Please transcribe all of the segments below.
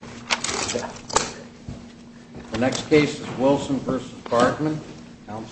The next case is Wilson v. Bargman, counsel. Bargman v. Bargman, counsel. Bargman v. Bargman, counsel. Bargman v. Bargman, counsel. Bargman v. Bargman, counsel. Bargman v. Bargman, counsel. Bargman v. Bargman,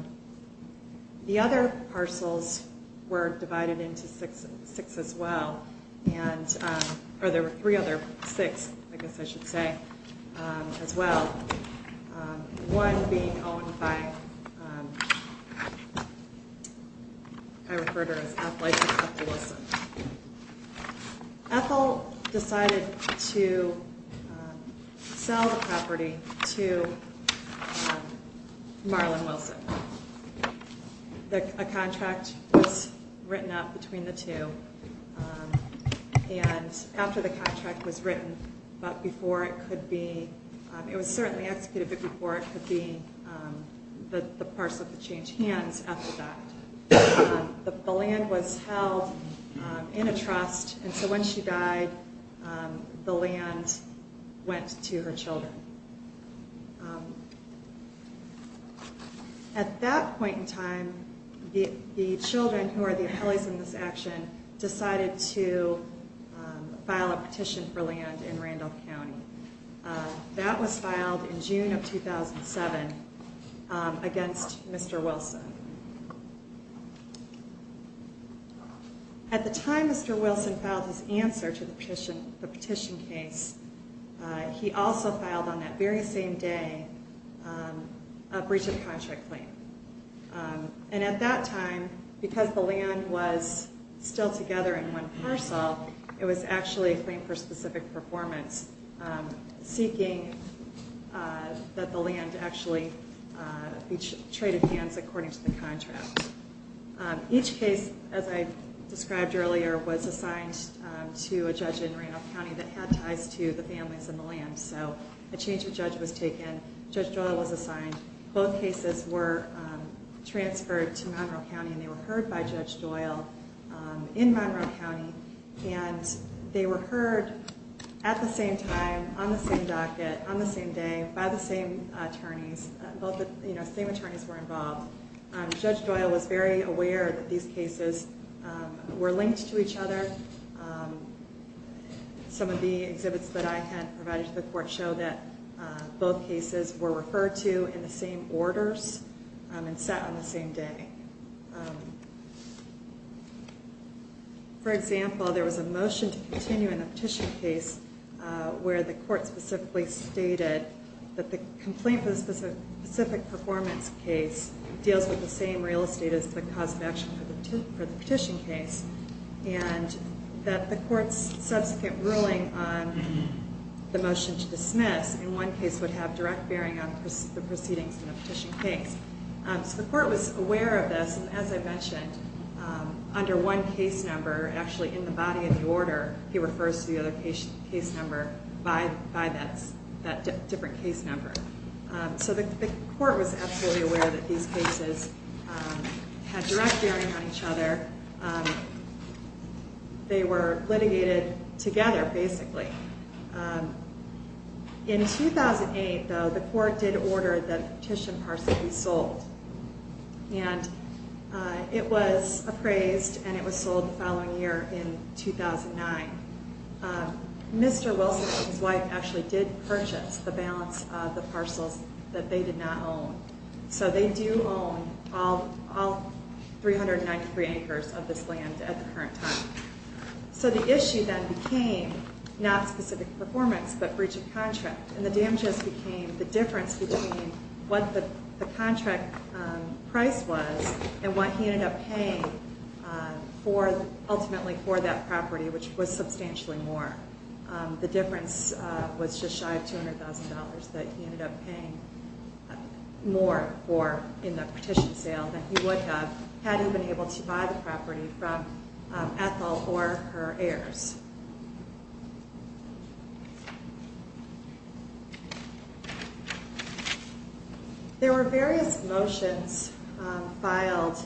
counsel. The other parcels were divided into six as well. And there were three other six, I guess I should say, as well. One being owned by, I refer to her as Ethel. Ethel decided to sell the property to Marlon Wilson. A contract was written up between the two. And after the contract was written, but before it could be, it was certainly executed, but before it could be, the parcel could change hands after that. The land was held in a trust, and so when she died, the land went to her children. At that point in time, the children, who are the appellees in this action, decided to file a petition for land in Randolph County. That was filed in June of 2007 against Mr. Wilson. At the time Mr. Wilson filed his answer to the petition case, he also filed on that very same day a breach of contract claim. And at that time, because the land was still together in one parcel, it was actually a claim for specific performance, seeking that the land actually be traded hands according to the contract. Each case, as I described earlier, was assigned to a judge in Randolph County that had ties to the families and the land. So a change of judge was taken. Judge Doyle was assigned. Both cases were transferred to Monroe County, and they were heard by Judge Doyle. In Monroe County, and they were heard at the same time, on the same docket, on the same day, by the same attorneys. Both the same attorneys were involved. Judge Doyle was very aware that these cases were linked to each other. Some of the exhibits that I had provided to the court show that both cases were referred to in the same orders and sat on the same day. For example, there was a motion to continue in the petition case where the court specifically stated that the complaint for the specific performance case deals with the same real estate as the cause of action for the petition case, and that the court's subsequent ruling on the motion to dismiss, in one case, would have direct bearing on the proceedings in the petition case. So the court was aware of this, and as I mentioned, under one case number, actually in the body of the order, he refers to the other case number by that different case number. So the court was absolutely aware that these cases had direct bearing on each other. They were litigated together, basically. In 2008, though, the court did order that the petition parcel be sold. And it was appraised, and it was sold the following year in 2009. Mr. Wilson and his wife actually did purchase the balance of the parcels that they did not own. So they do own all 393 acres of this land at the current time. So the issue then became not specific performance, but breach of contract. And the damages became the difference between what the contract price was and what he ended up paying ultimately for that property, which was substantially more. The difference was just shy of $200,000 that he ended up paying more for in the petition sale than he would have had he been able to buy the property from Ethel or her heirs. There were various motions filed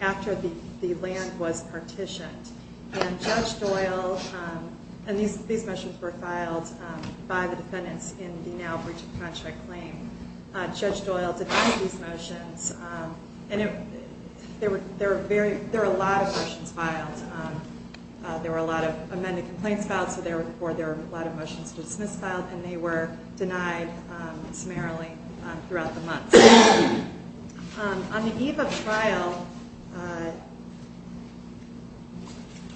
after the land was partitioned. And Judge Doyle, and these motions were filed by the defendants in the now breach of contract claim. Judge Doyle denied these motions, and there were a lot of motions filed. There were a lot of amended complaints filed, or there were a lot of motions to dismiss filed, and they were denied summarily throughout the month. On the eve of trial,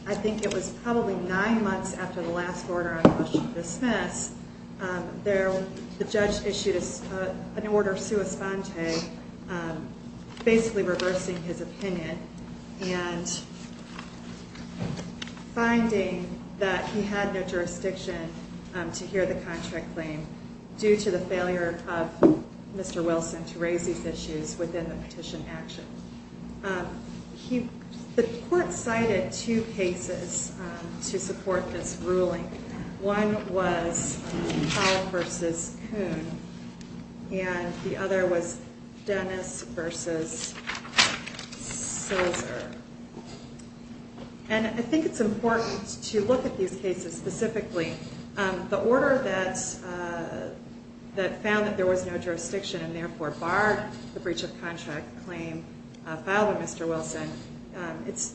I think it was probably nine months after the last order on a motion to dismiss, the judge issued an order sua sponte, basically reversing his opinion and finding that he had no jurisdiction to hear the contract claim due to the failure of Mr. Wilson to raise these issues within the petition action. The court cited two cases to support this ruling. One was Powell v. Coon, and the other was Dennis v. Silzer. And I think it's important to look at these cases specifically. The order that found that there was no jurisdiction and therefore barred the breach of contract claim filed by Mr. Wilson, it's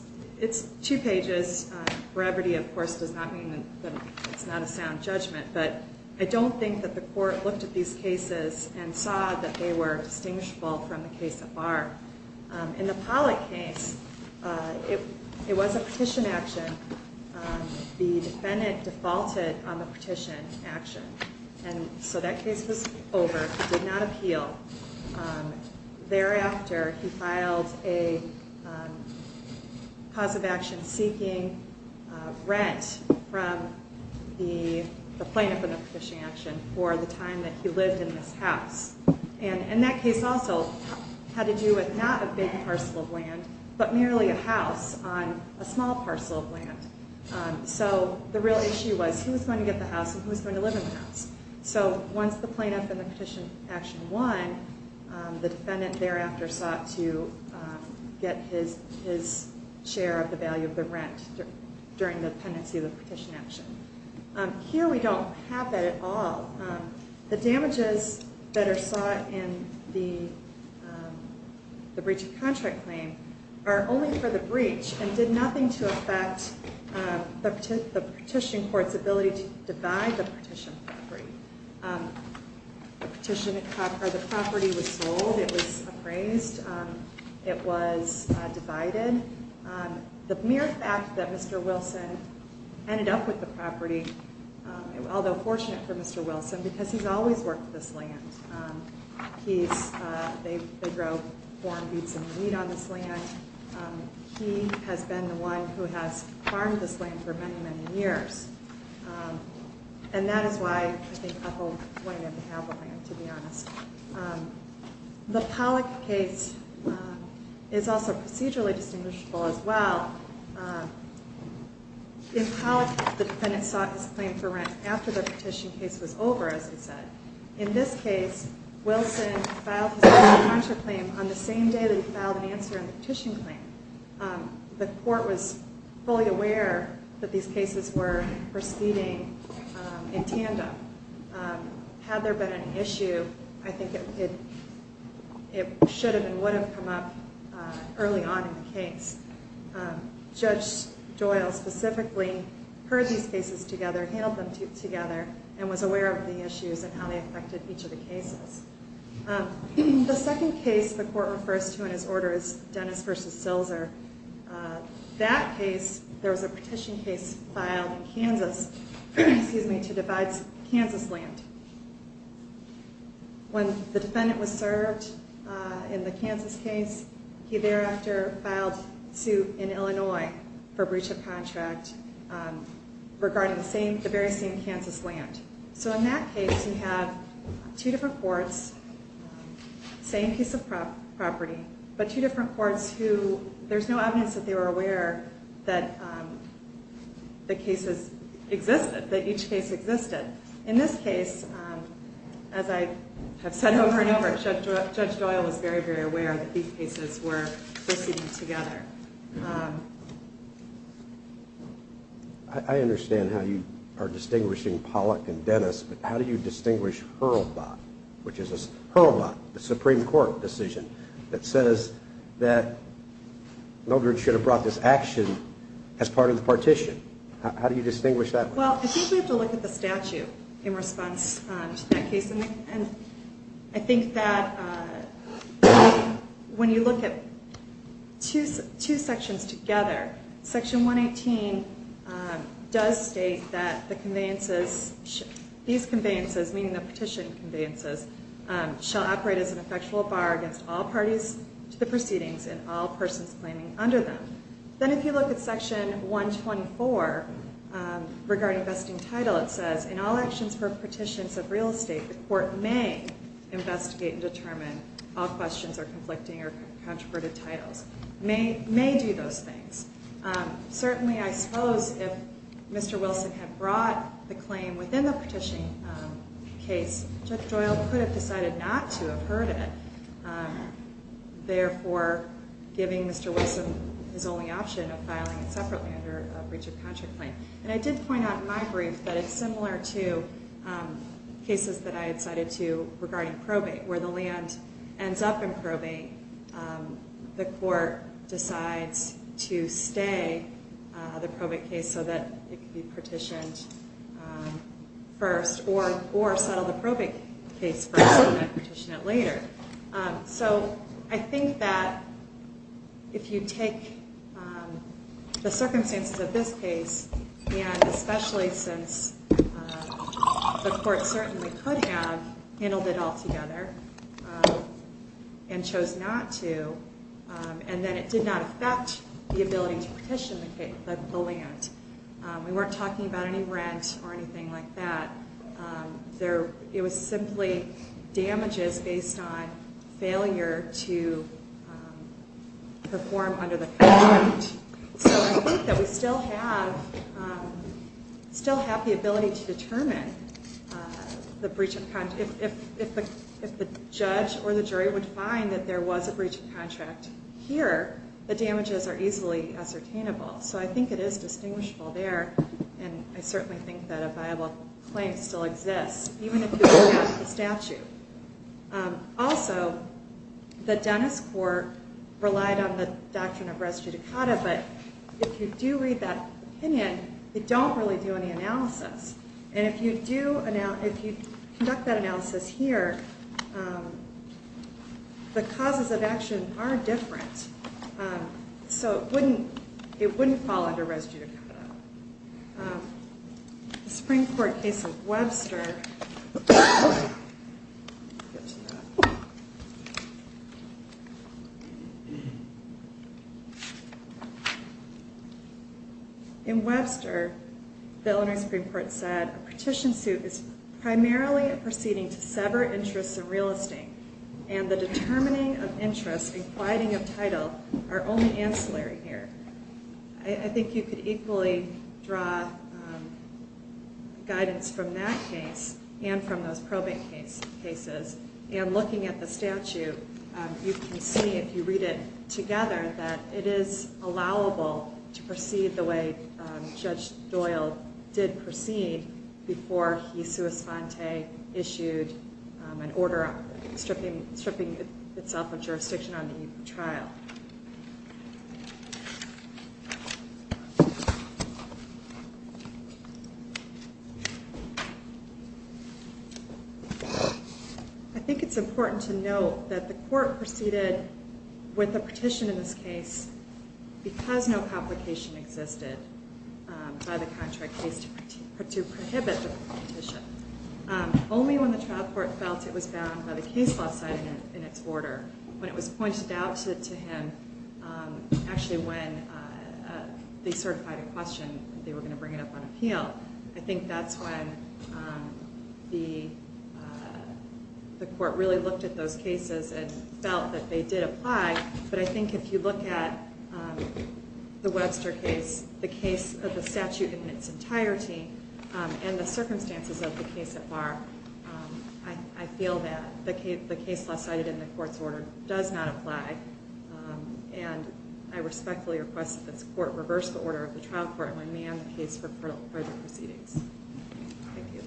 two pages. Brevity, of course, does not mean that it's not a sound judgment. But I don't think that the court looked at these cases and saw that they were distinguishable from the case at bar. In the Pollack case, it was a petition action. The defendant defaulted on the petition action. And so that case was over. He did not appeal. Thereafter, he filed a cause of action seeking rent from the plaintiff in the petition action for the time that he lived in this house. And that case also had to do with not a big parcel of land, but merely a house on a small parcel of land. So the real issue was who's going to get the house and who's going to live in the house. So once the plaintiff in the petition action won, the defendant thereafter sought to get his share of the value of the rent during the pendency of the petition action. Here we don't have that at all. The damages that are sought in the breach of contract claim are only for the breach and did nothing to affect the petition court's ability to divide the petition property. The property was sold. It was appraised. It was divided. The mere fact that Mr. Wilson ended up with the property, although fortunate for Mr. Wilson because he's always worked this land. They grow corn, beets, and wheat on this land. He has been the one who has farmed this land for many, many years. And that is why I think Uppell wanted him to have the land, to be honest. The Pollack case is also procedurally distinguishable as well. In Pollack, the defendant sought his claim for rent after the petition case was over, as I said. In this case, Wilson filed his contract claim on the same day that he filed an answer to the petition claim. The court was fully aware that these cases were proceeding in tandem. Had there been an issue, I think it should have and would have come up early on in the case. Judge Doyle specifically heard these cases together, handled them together, and was aware of the issues and how they affected each of the cases. The second case the court refers to in its order is Dennis v. Silser. That case, there was a petition case filed in Kansas to divide Kansas land. When the defendant was served in the Kansas case, he thereafter filed suit in Illinois for breach of contract regarding the very same Kansas land. In that case, you have two different courts, same piece of property, but two different courts who there's no evidence that they were aware that the cases existed, that each case existed. In this case, as I have said over and over, Judge Doyle was very, very aware that these cases were proceeding together. I understand how you are distinguishing Pollack and Dennis, but how do you distinguish Hurlbut, which is Hurlbut, the Supreme Court decision, that says that Milgren should have brought this action as part of the partition? How do you distinguish that? Well, I think we have to look at the statute in response to that case, and I think that when you look at two sections together, Section 118 does state that these conveyances, meaning the petition conveyances, shall operate as an effectual bar against all parties to the proceedings and all persons claiming under them. Then if you look at Section 124 regarding vesting title, it says, in all actions for petitions of real estate, the court may investigate and determine all questions or conflicting or controverted titles. It may do those things. Certainly, I suppose if Mr. Wilson had brought the claim within the petition case, Judge Doyle could have decided not to have heard it, therefore giving Mr. Wilson his only option of filing it separately under a breach of contract claim. And I did point out in my brief that it's similar to cases that I had cited to regarding probate, where the land ends up in probate, the court decides to stay the probate case so that it can be petitioned first or settle the probate case first and then petition it later. So I think that if you take the circumstances of this case, and especially since the court certainly could have handled it altogether and chose not to, and then it did not affect the ability to petition the land. We weren't talking about any rent or anything like that. It was simply damages based on failure to perform under the contract. So I think that we still have the ability to determine the breach of contract. If the judge or the jury would find that there was a breach of contract here, the damages are easily ascertainable. So I think it is distinguishable there, and I certainly think that a viable claim still exists, even if it were not the statute. Also, the Dennis Court relied on the doctrine of res judicata, but if you do read that opinion, they don't really do any analysis. And if you conduct that analysis here, the causes of action are different. So it wouldn't fall under res judicata. The Supreme Court case of Webster, in Webster, the Eleanor Supreme Court said, a petition suit is primarily a proceeding to sever interests in real estate and the determining of interests and quieting of title are only ancillary here. I think you could equally draw guidance from that case and from those probate cases. And looking at the statute, you can see, if you read it together, that it is allowable to proceed the way Judge Doyle did proceed before he, sua sponte, issued an order stripping itself of jurisdiction on the trial. I think it's important to note that the court proceeded with a petition in this case because no complication existed by the contract case to prohibit the petition. Only when the trial court felt it was bound by the case law setting in its order, when it was pointed out to him, actually when they certified a question, they were going to bring it up on appeal. I think that's when the court really looked at those cases and felt that they did apply. But I think if you look at the Webster case, the case of the statute in its entirety, and the circumstances of the case at bar, I feel that the case law cited in the court's order does not apply. And I respectfully request that this court reverse the order of the trial court and remand the case for further proceedings. Thank you.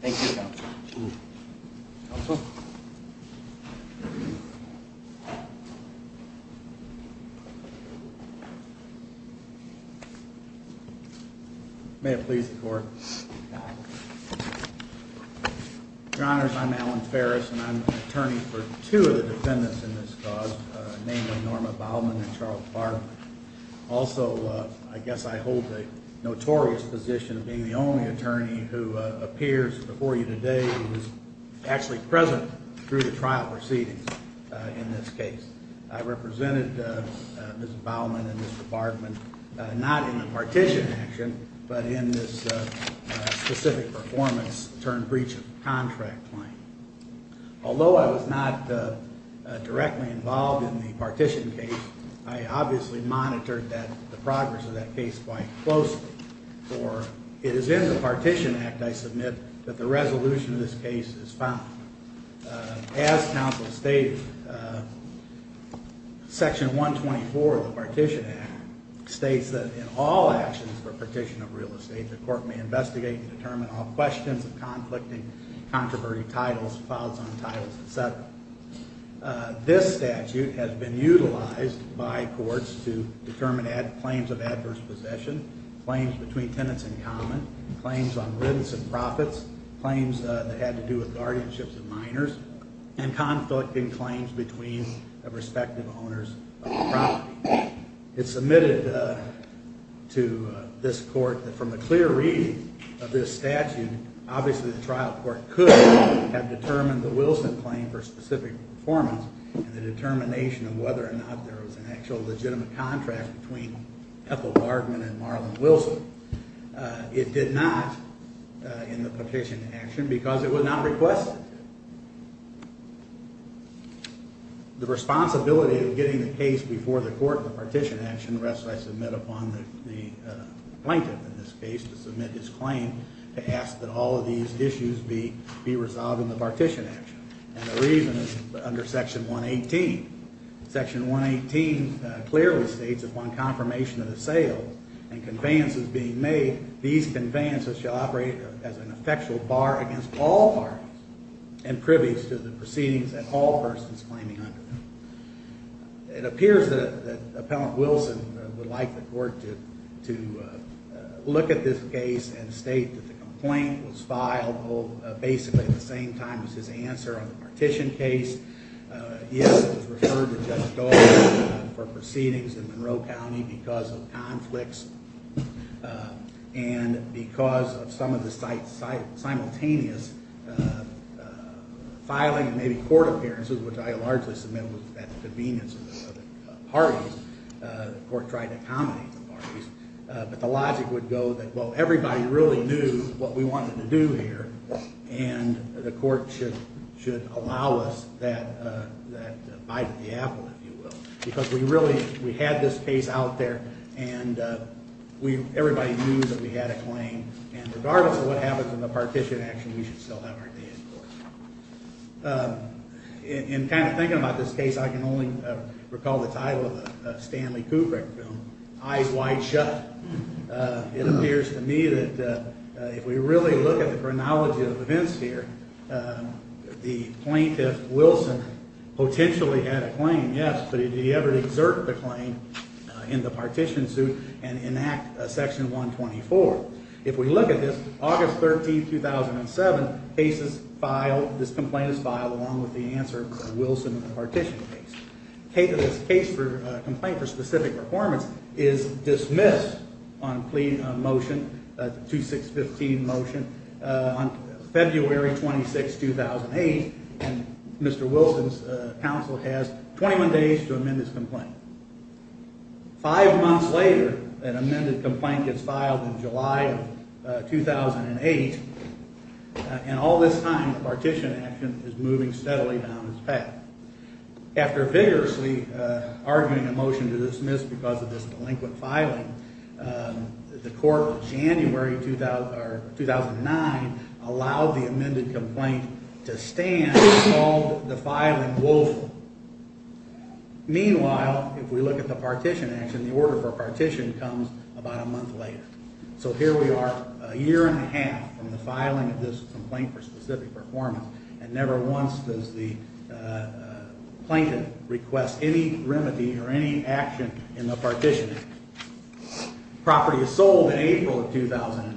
Thank you, Counsel. Counsel? May it please the Court. Your Honors, I'm Alan Ferris, and I'm an attorney for two of the defendants in this cause, namely Norma Baldwin and Charles Bartlett. Also, I guess I hold the notorious position of being the only attorney who appears before you today who is actually present through the trial proceedings in this case. I represented Ms. Baldwin and Mr. Bartlett not in the partition action, but in this specific performance-turned-breach-of-contract claim. Although I was not directly involved in the partition case, I obviously monitored the progress of that case quite closely. It is in the Partition Act, I submit, that the resolution of this case is found. As counsel stated, Section 124 of the Partition Act states that in all actions for partition of real estate, the court may investigate and determine all questions of conflicting, controversy, titles, files on titles, et cetera. This statute has been utilized by courts to determine claims of adverse possession, claims between tenants in common, claims on rents and profits, claims that had to do with guardianships of minors, and conflicting claims between the respective owners of the property. It's submitted to this court that from a clear reading of this statute, obviously the trial court could have determined the Wilson claim for specific performance and the determination of whether or not there was an actual legitimate contract between Ethel Bardman and Marlon Wilson. It did not in the partition action because it was not requested. The responsibility of getting the case before the court in the partition action rests, I submit, upon the plaintiff in this case to submit his claim to ask that all of these issues be resolved in the partition action. And the reason is under Section 118. Section 118 clearly states upon confirmation of the sale and conveyances being made, these conveyances shall operate as an effectual bar against all parties and privy to the proceedings that all persons claiming under them. It appears that Appellant Wilson would like the court to look at this case and state that the complaint was filed basically at the same time as his answer on the partition case. Yes, it was referred to Judge Doyle for proceedings in Monroe County because of conflicts and because of some of the simultaneous filing and maybe court appearances, which I largely submit was at the convenience of the parties. The court tried to accommodate the parties. But the logic would go that, well, everybody really knew what we wanted to do here, and the court should allow us that bite of the apple, if you will, because we really had this case out there and everybody knew that we had a claim. And regardless of what happens in the partition action, we should still have our day in court. In kind of thinking about this case, I can only recall the title of the Stanley Kubrick film, Eyes Wide Shut. It appears to me that if we really look at the chronology of events here, the plaintiff, Wilson, potentially had a claim, yes, but did he ever exert the claim in the partition suit and enact Section 124? If we look at this, August 13, 2007, this complaint is filed along with the answer to the Wilson partition case. This case for a complaint for specific performance is dismissed on motion 2615 motion on February 26, 2008, and Mr. Wilson's counsel has 21 days to amend this complaint. Five months later, an amended complaint gets filed in July of 2008, and all this time the partition action is moving steadily down its path. After vigorously arguing a motion to dismiss because of this delinquent filing, the court of January 2009 allowed the amended complaint to stand and called the filing woeful. Meanwhile, if we look at the partition action, the order for partition comes about a month later. So here we are a year and a half from the filing of this complaint for specific performance, and never once does the plaintiff request any remedy or any action in the partition. Property is sold in April of 2009.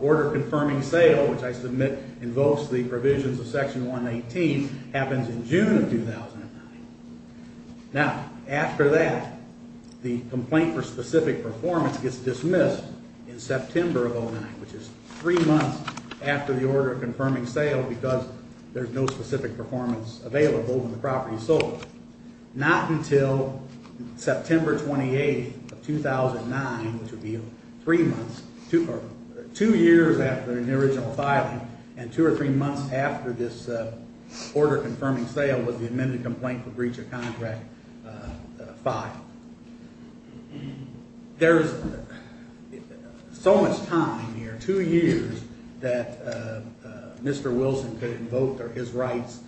Order confirming sale, which I submit invokes the provisions of Section 118, happens in June of 2009. Now, after that, the complaint for specific performance gets dismissed in September of 2009, which is three months after the order confirming sale because there's no specific performance available and the property is sold. Not until September 28, 2009, which would be three months, two years after the original filing, and two or three months after this order confirming sale was the amended complaint for breach of contract filed. There's so much time here, two years, that Mr. Wilson could invoke his rights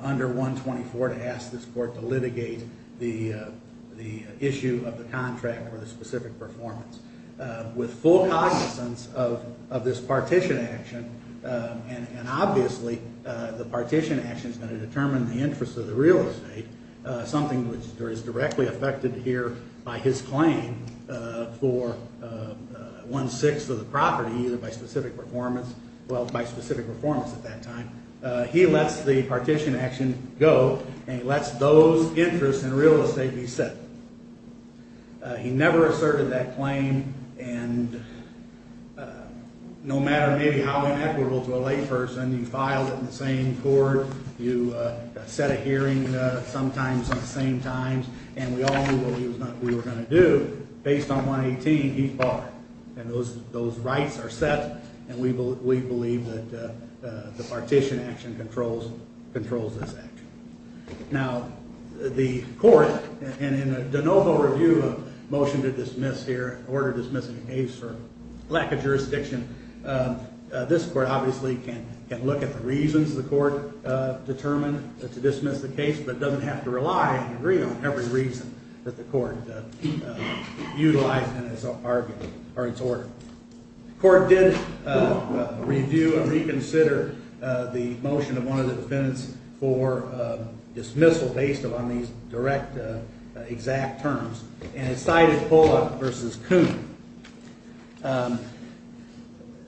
under 124 to ask this court to litigate the issue of the contract for the specific performance. With full cognizance of this partition action, and obviously the partition action is going to determine the interest of the real estate, something which is directly affected here by his claim for one-sixth of the property, either by specific performance, well, by specific performance at that time, he lets the partition action go, and he lets those interests in real estate be set. He never asserted that claim, and no matter maybe how inequitable to a layperson, you filed it in the same court, you set a hearing sometimes on the same times, and we all knew what we were going to do. Based on 118, he's barred, and those rights are set, and we believe that the partition action controls this action. Now, the court, and in the de novo review of motion to dismiss here, for lack of jurisdiction, this court obviously can look at the reasons the court determined to dismiss the case, but doesn't have to rely and agree on every reason that the court utilized in its argument, or its order. The court did review and reconsider the motion of one of the defendants for dismissal, based upon these direct, exact terms, and it cited Pollock versus Coon.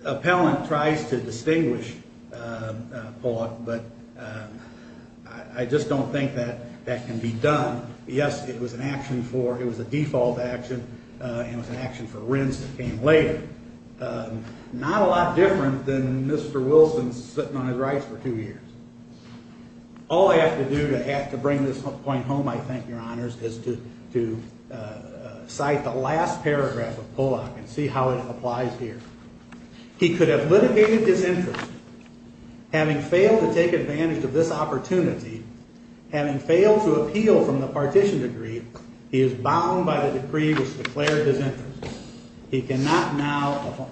Appellant tries to distinguish Pollock, but I just don't think that that can be done. Yes, it was an action for, it was a default action, and it was an action for Rins that came later. Not a lot different than Mr. Wilson sitting on his rights for two years. All I have to do to bring this point home, I think, your honors, is to cite the last paragraph of Pollock and see how it applies here. He could have litigated his interest. Having failed to take advantage of this opportunity, having failed to appeal from the partition decree, he is bound by the decree which declared his interest. He cannot now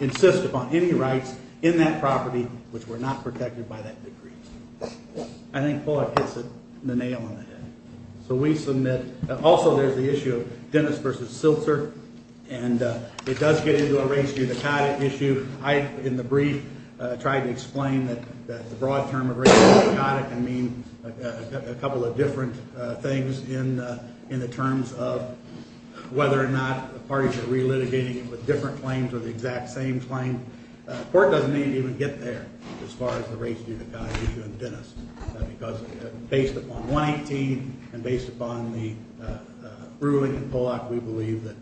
insist upon any rights in that property which were not protected by that decree. I think Pollock hits the nail on the head. So we submit, also there's the issue of Dennis versus Silzer, and it does get into a race-unicotic issue. I, in the brief, tried to explain that the broad term of race-unicotic can mean a couple of different things in the terms of whether or not the parties are relitigating it with different claims or the exact same claim. The court doesn't need to even get there as far as the race-unicotic issue in Dennis because based upon 118 and based upon the ruling in Pollock, we believe that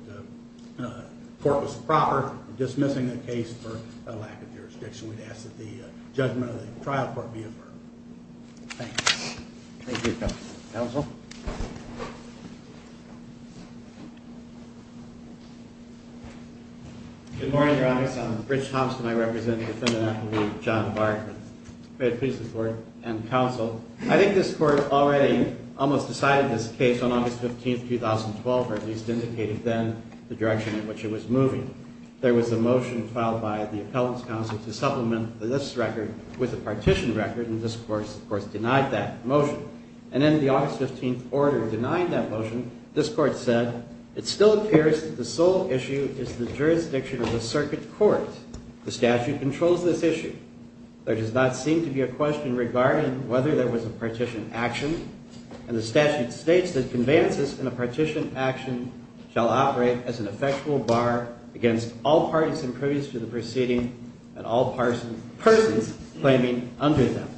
the court was proper in dismissing the case for a lack of jurisdiction. We'd ask that the judgment of the trial court be affirmed. Thank you. Thank you, counsel. Good morning, Your Honor. I'm Rich Thompson. I represent defendant-appellee John Bartlett. May it please the court and counsel, I think this court already almost decided this case on August 15, 2012, or at least indicated then the direction in which it was moving. There was a motion filed by the appellant's counsel to supplement this record with a partition record, and this court, of course, denied that motion. And in the August 15 order denying that motion, this court said, it still appears that the sole issue is the jurisdiction of the circuit court. The statute controls this issue. There does not seem to be a question regarding whether there was a partition action, and the statute states that conveyances in a partition action shall operate as an effectual bar against all parties impervious to the proceeding and all persons claiming under them.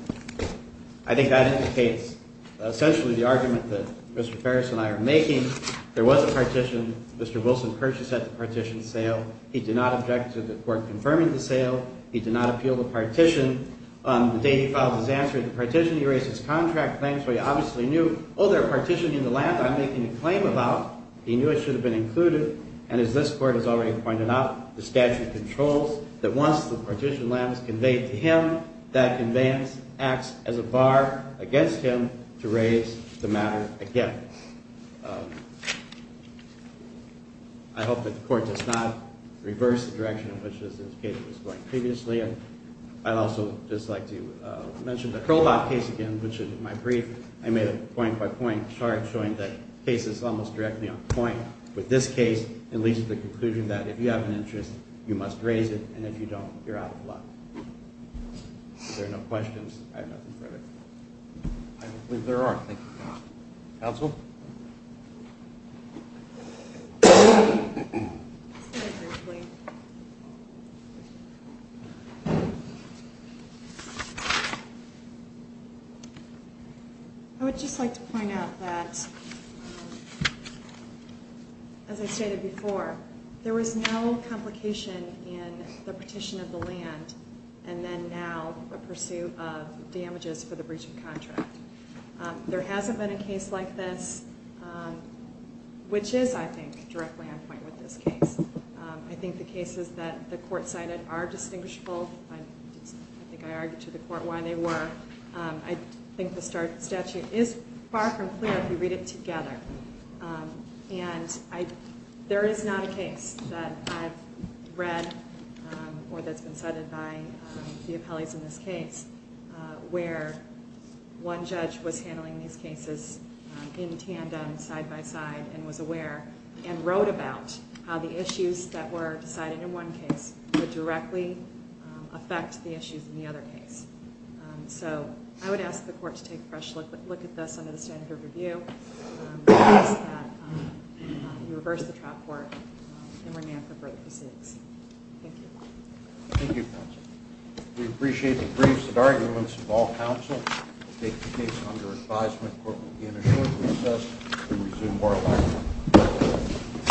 I think that indicates essentially the argument that Mr. Ferris and I are making. There was a partition. Mr. Wilson purchased at the partition sale. He did not object to the court confirming the sale. He did not appeal the partition. On the day he filed his answer to the partition, he raised his contract claims, so he obviously knew, oh, they're partitioning the land I'm making a claim about. He knew it should have been included, and as this court has already pointed out, the statute controls that once the partition land is conveyed to him, that conveyance acts as a bar against him to raise the matter again. I hope that the court does not reverse the direction in which this case was going previously, and I'd also just like to mention the Hurlhop case again, which in my brief, I made a point-by-point chart showing that the case is almost directly on point with this case and leads to the conclusion that if you have an interest, you must raise it, and if you don't, you're out of luck. If there are no questions, I have nothing further. I believe there are. Counsel? I would just like to point out that, as I stated before, there was no complication in the partition of the land and then now a pursuit of damages for the breach of contract. There hasn't been a case like this, which is, I think, directly on point with this case. I think the cases that the court cited are distinguishable. I think I argued to the court why they were. I think the statute is far from clear if you read it together, and there is not a case that I've read or that's been cited by the appellees in this case where one judge was handling these cases in tandem, side-by-side, and was aware and wrote about how the issues that were decided in one case would directly affect the issues in the other case. So I would ask the court to take a fresh look at this under the standard of review, and request that we reverse the trial court and remand for broke proceeds. Thank you. Thank you, counsel. We appreciate the briefs and arguments of all counsel. We take the case under advisement. The court will be in a short recess and resume oral argument.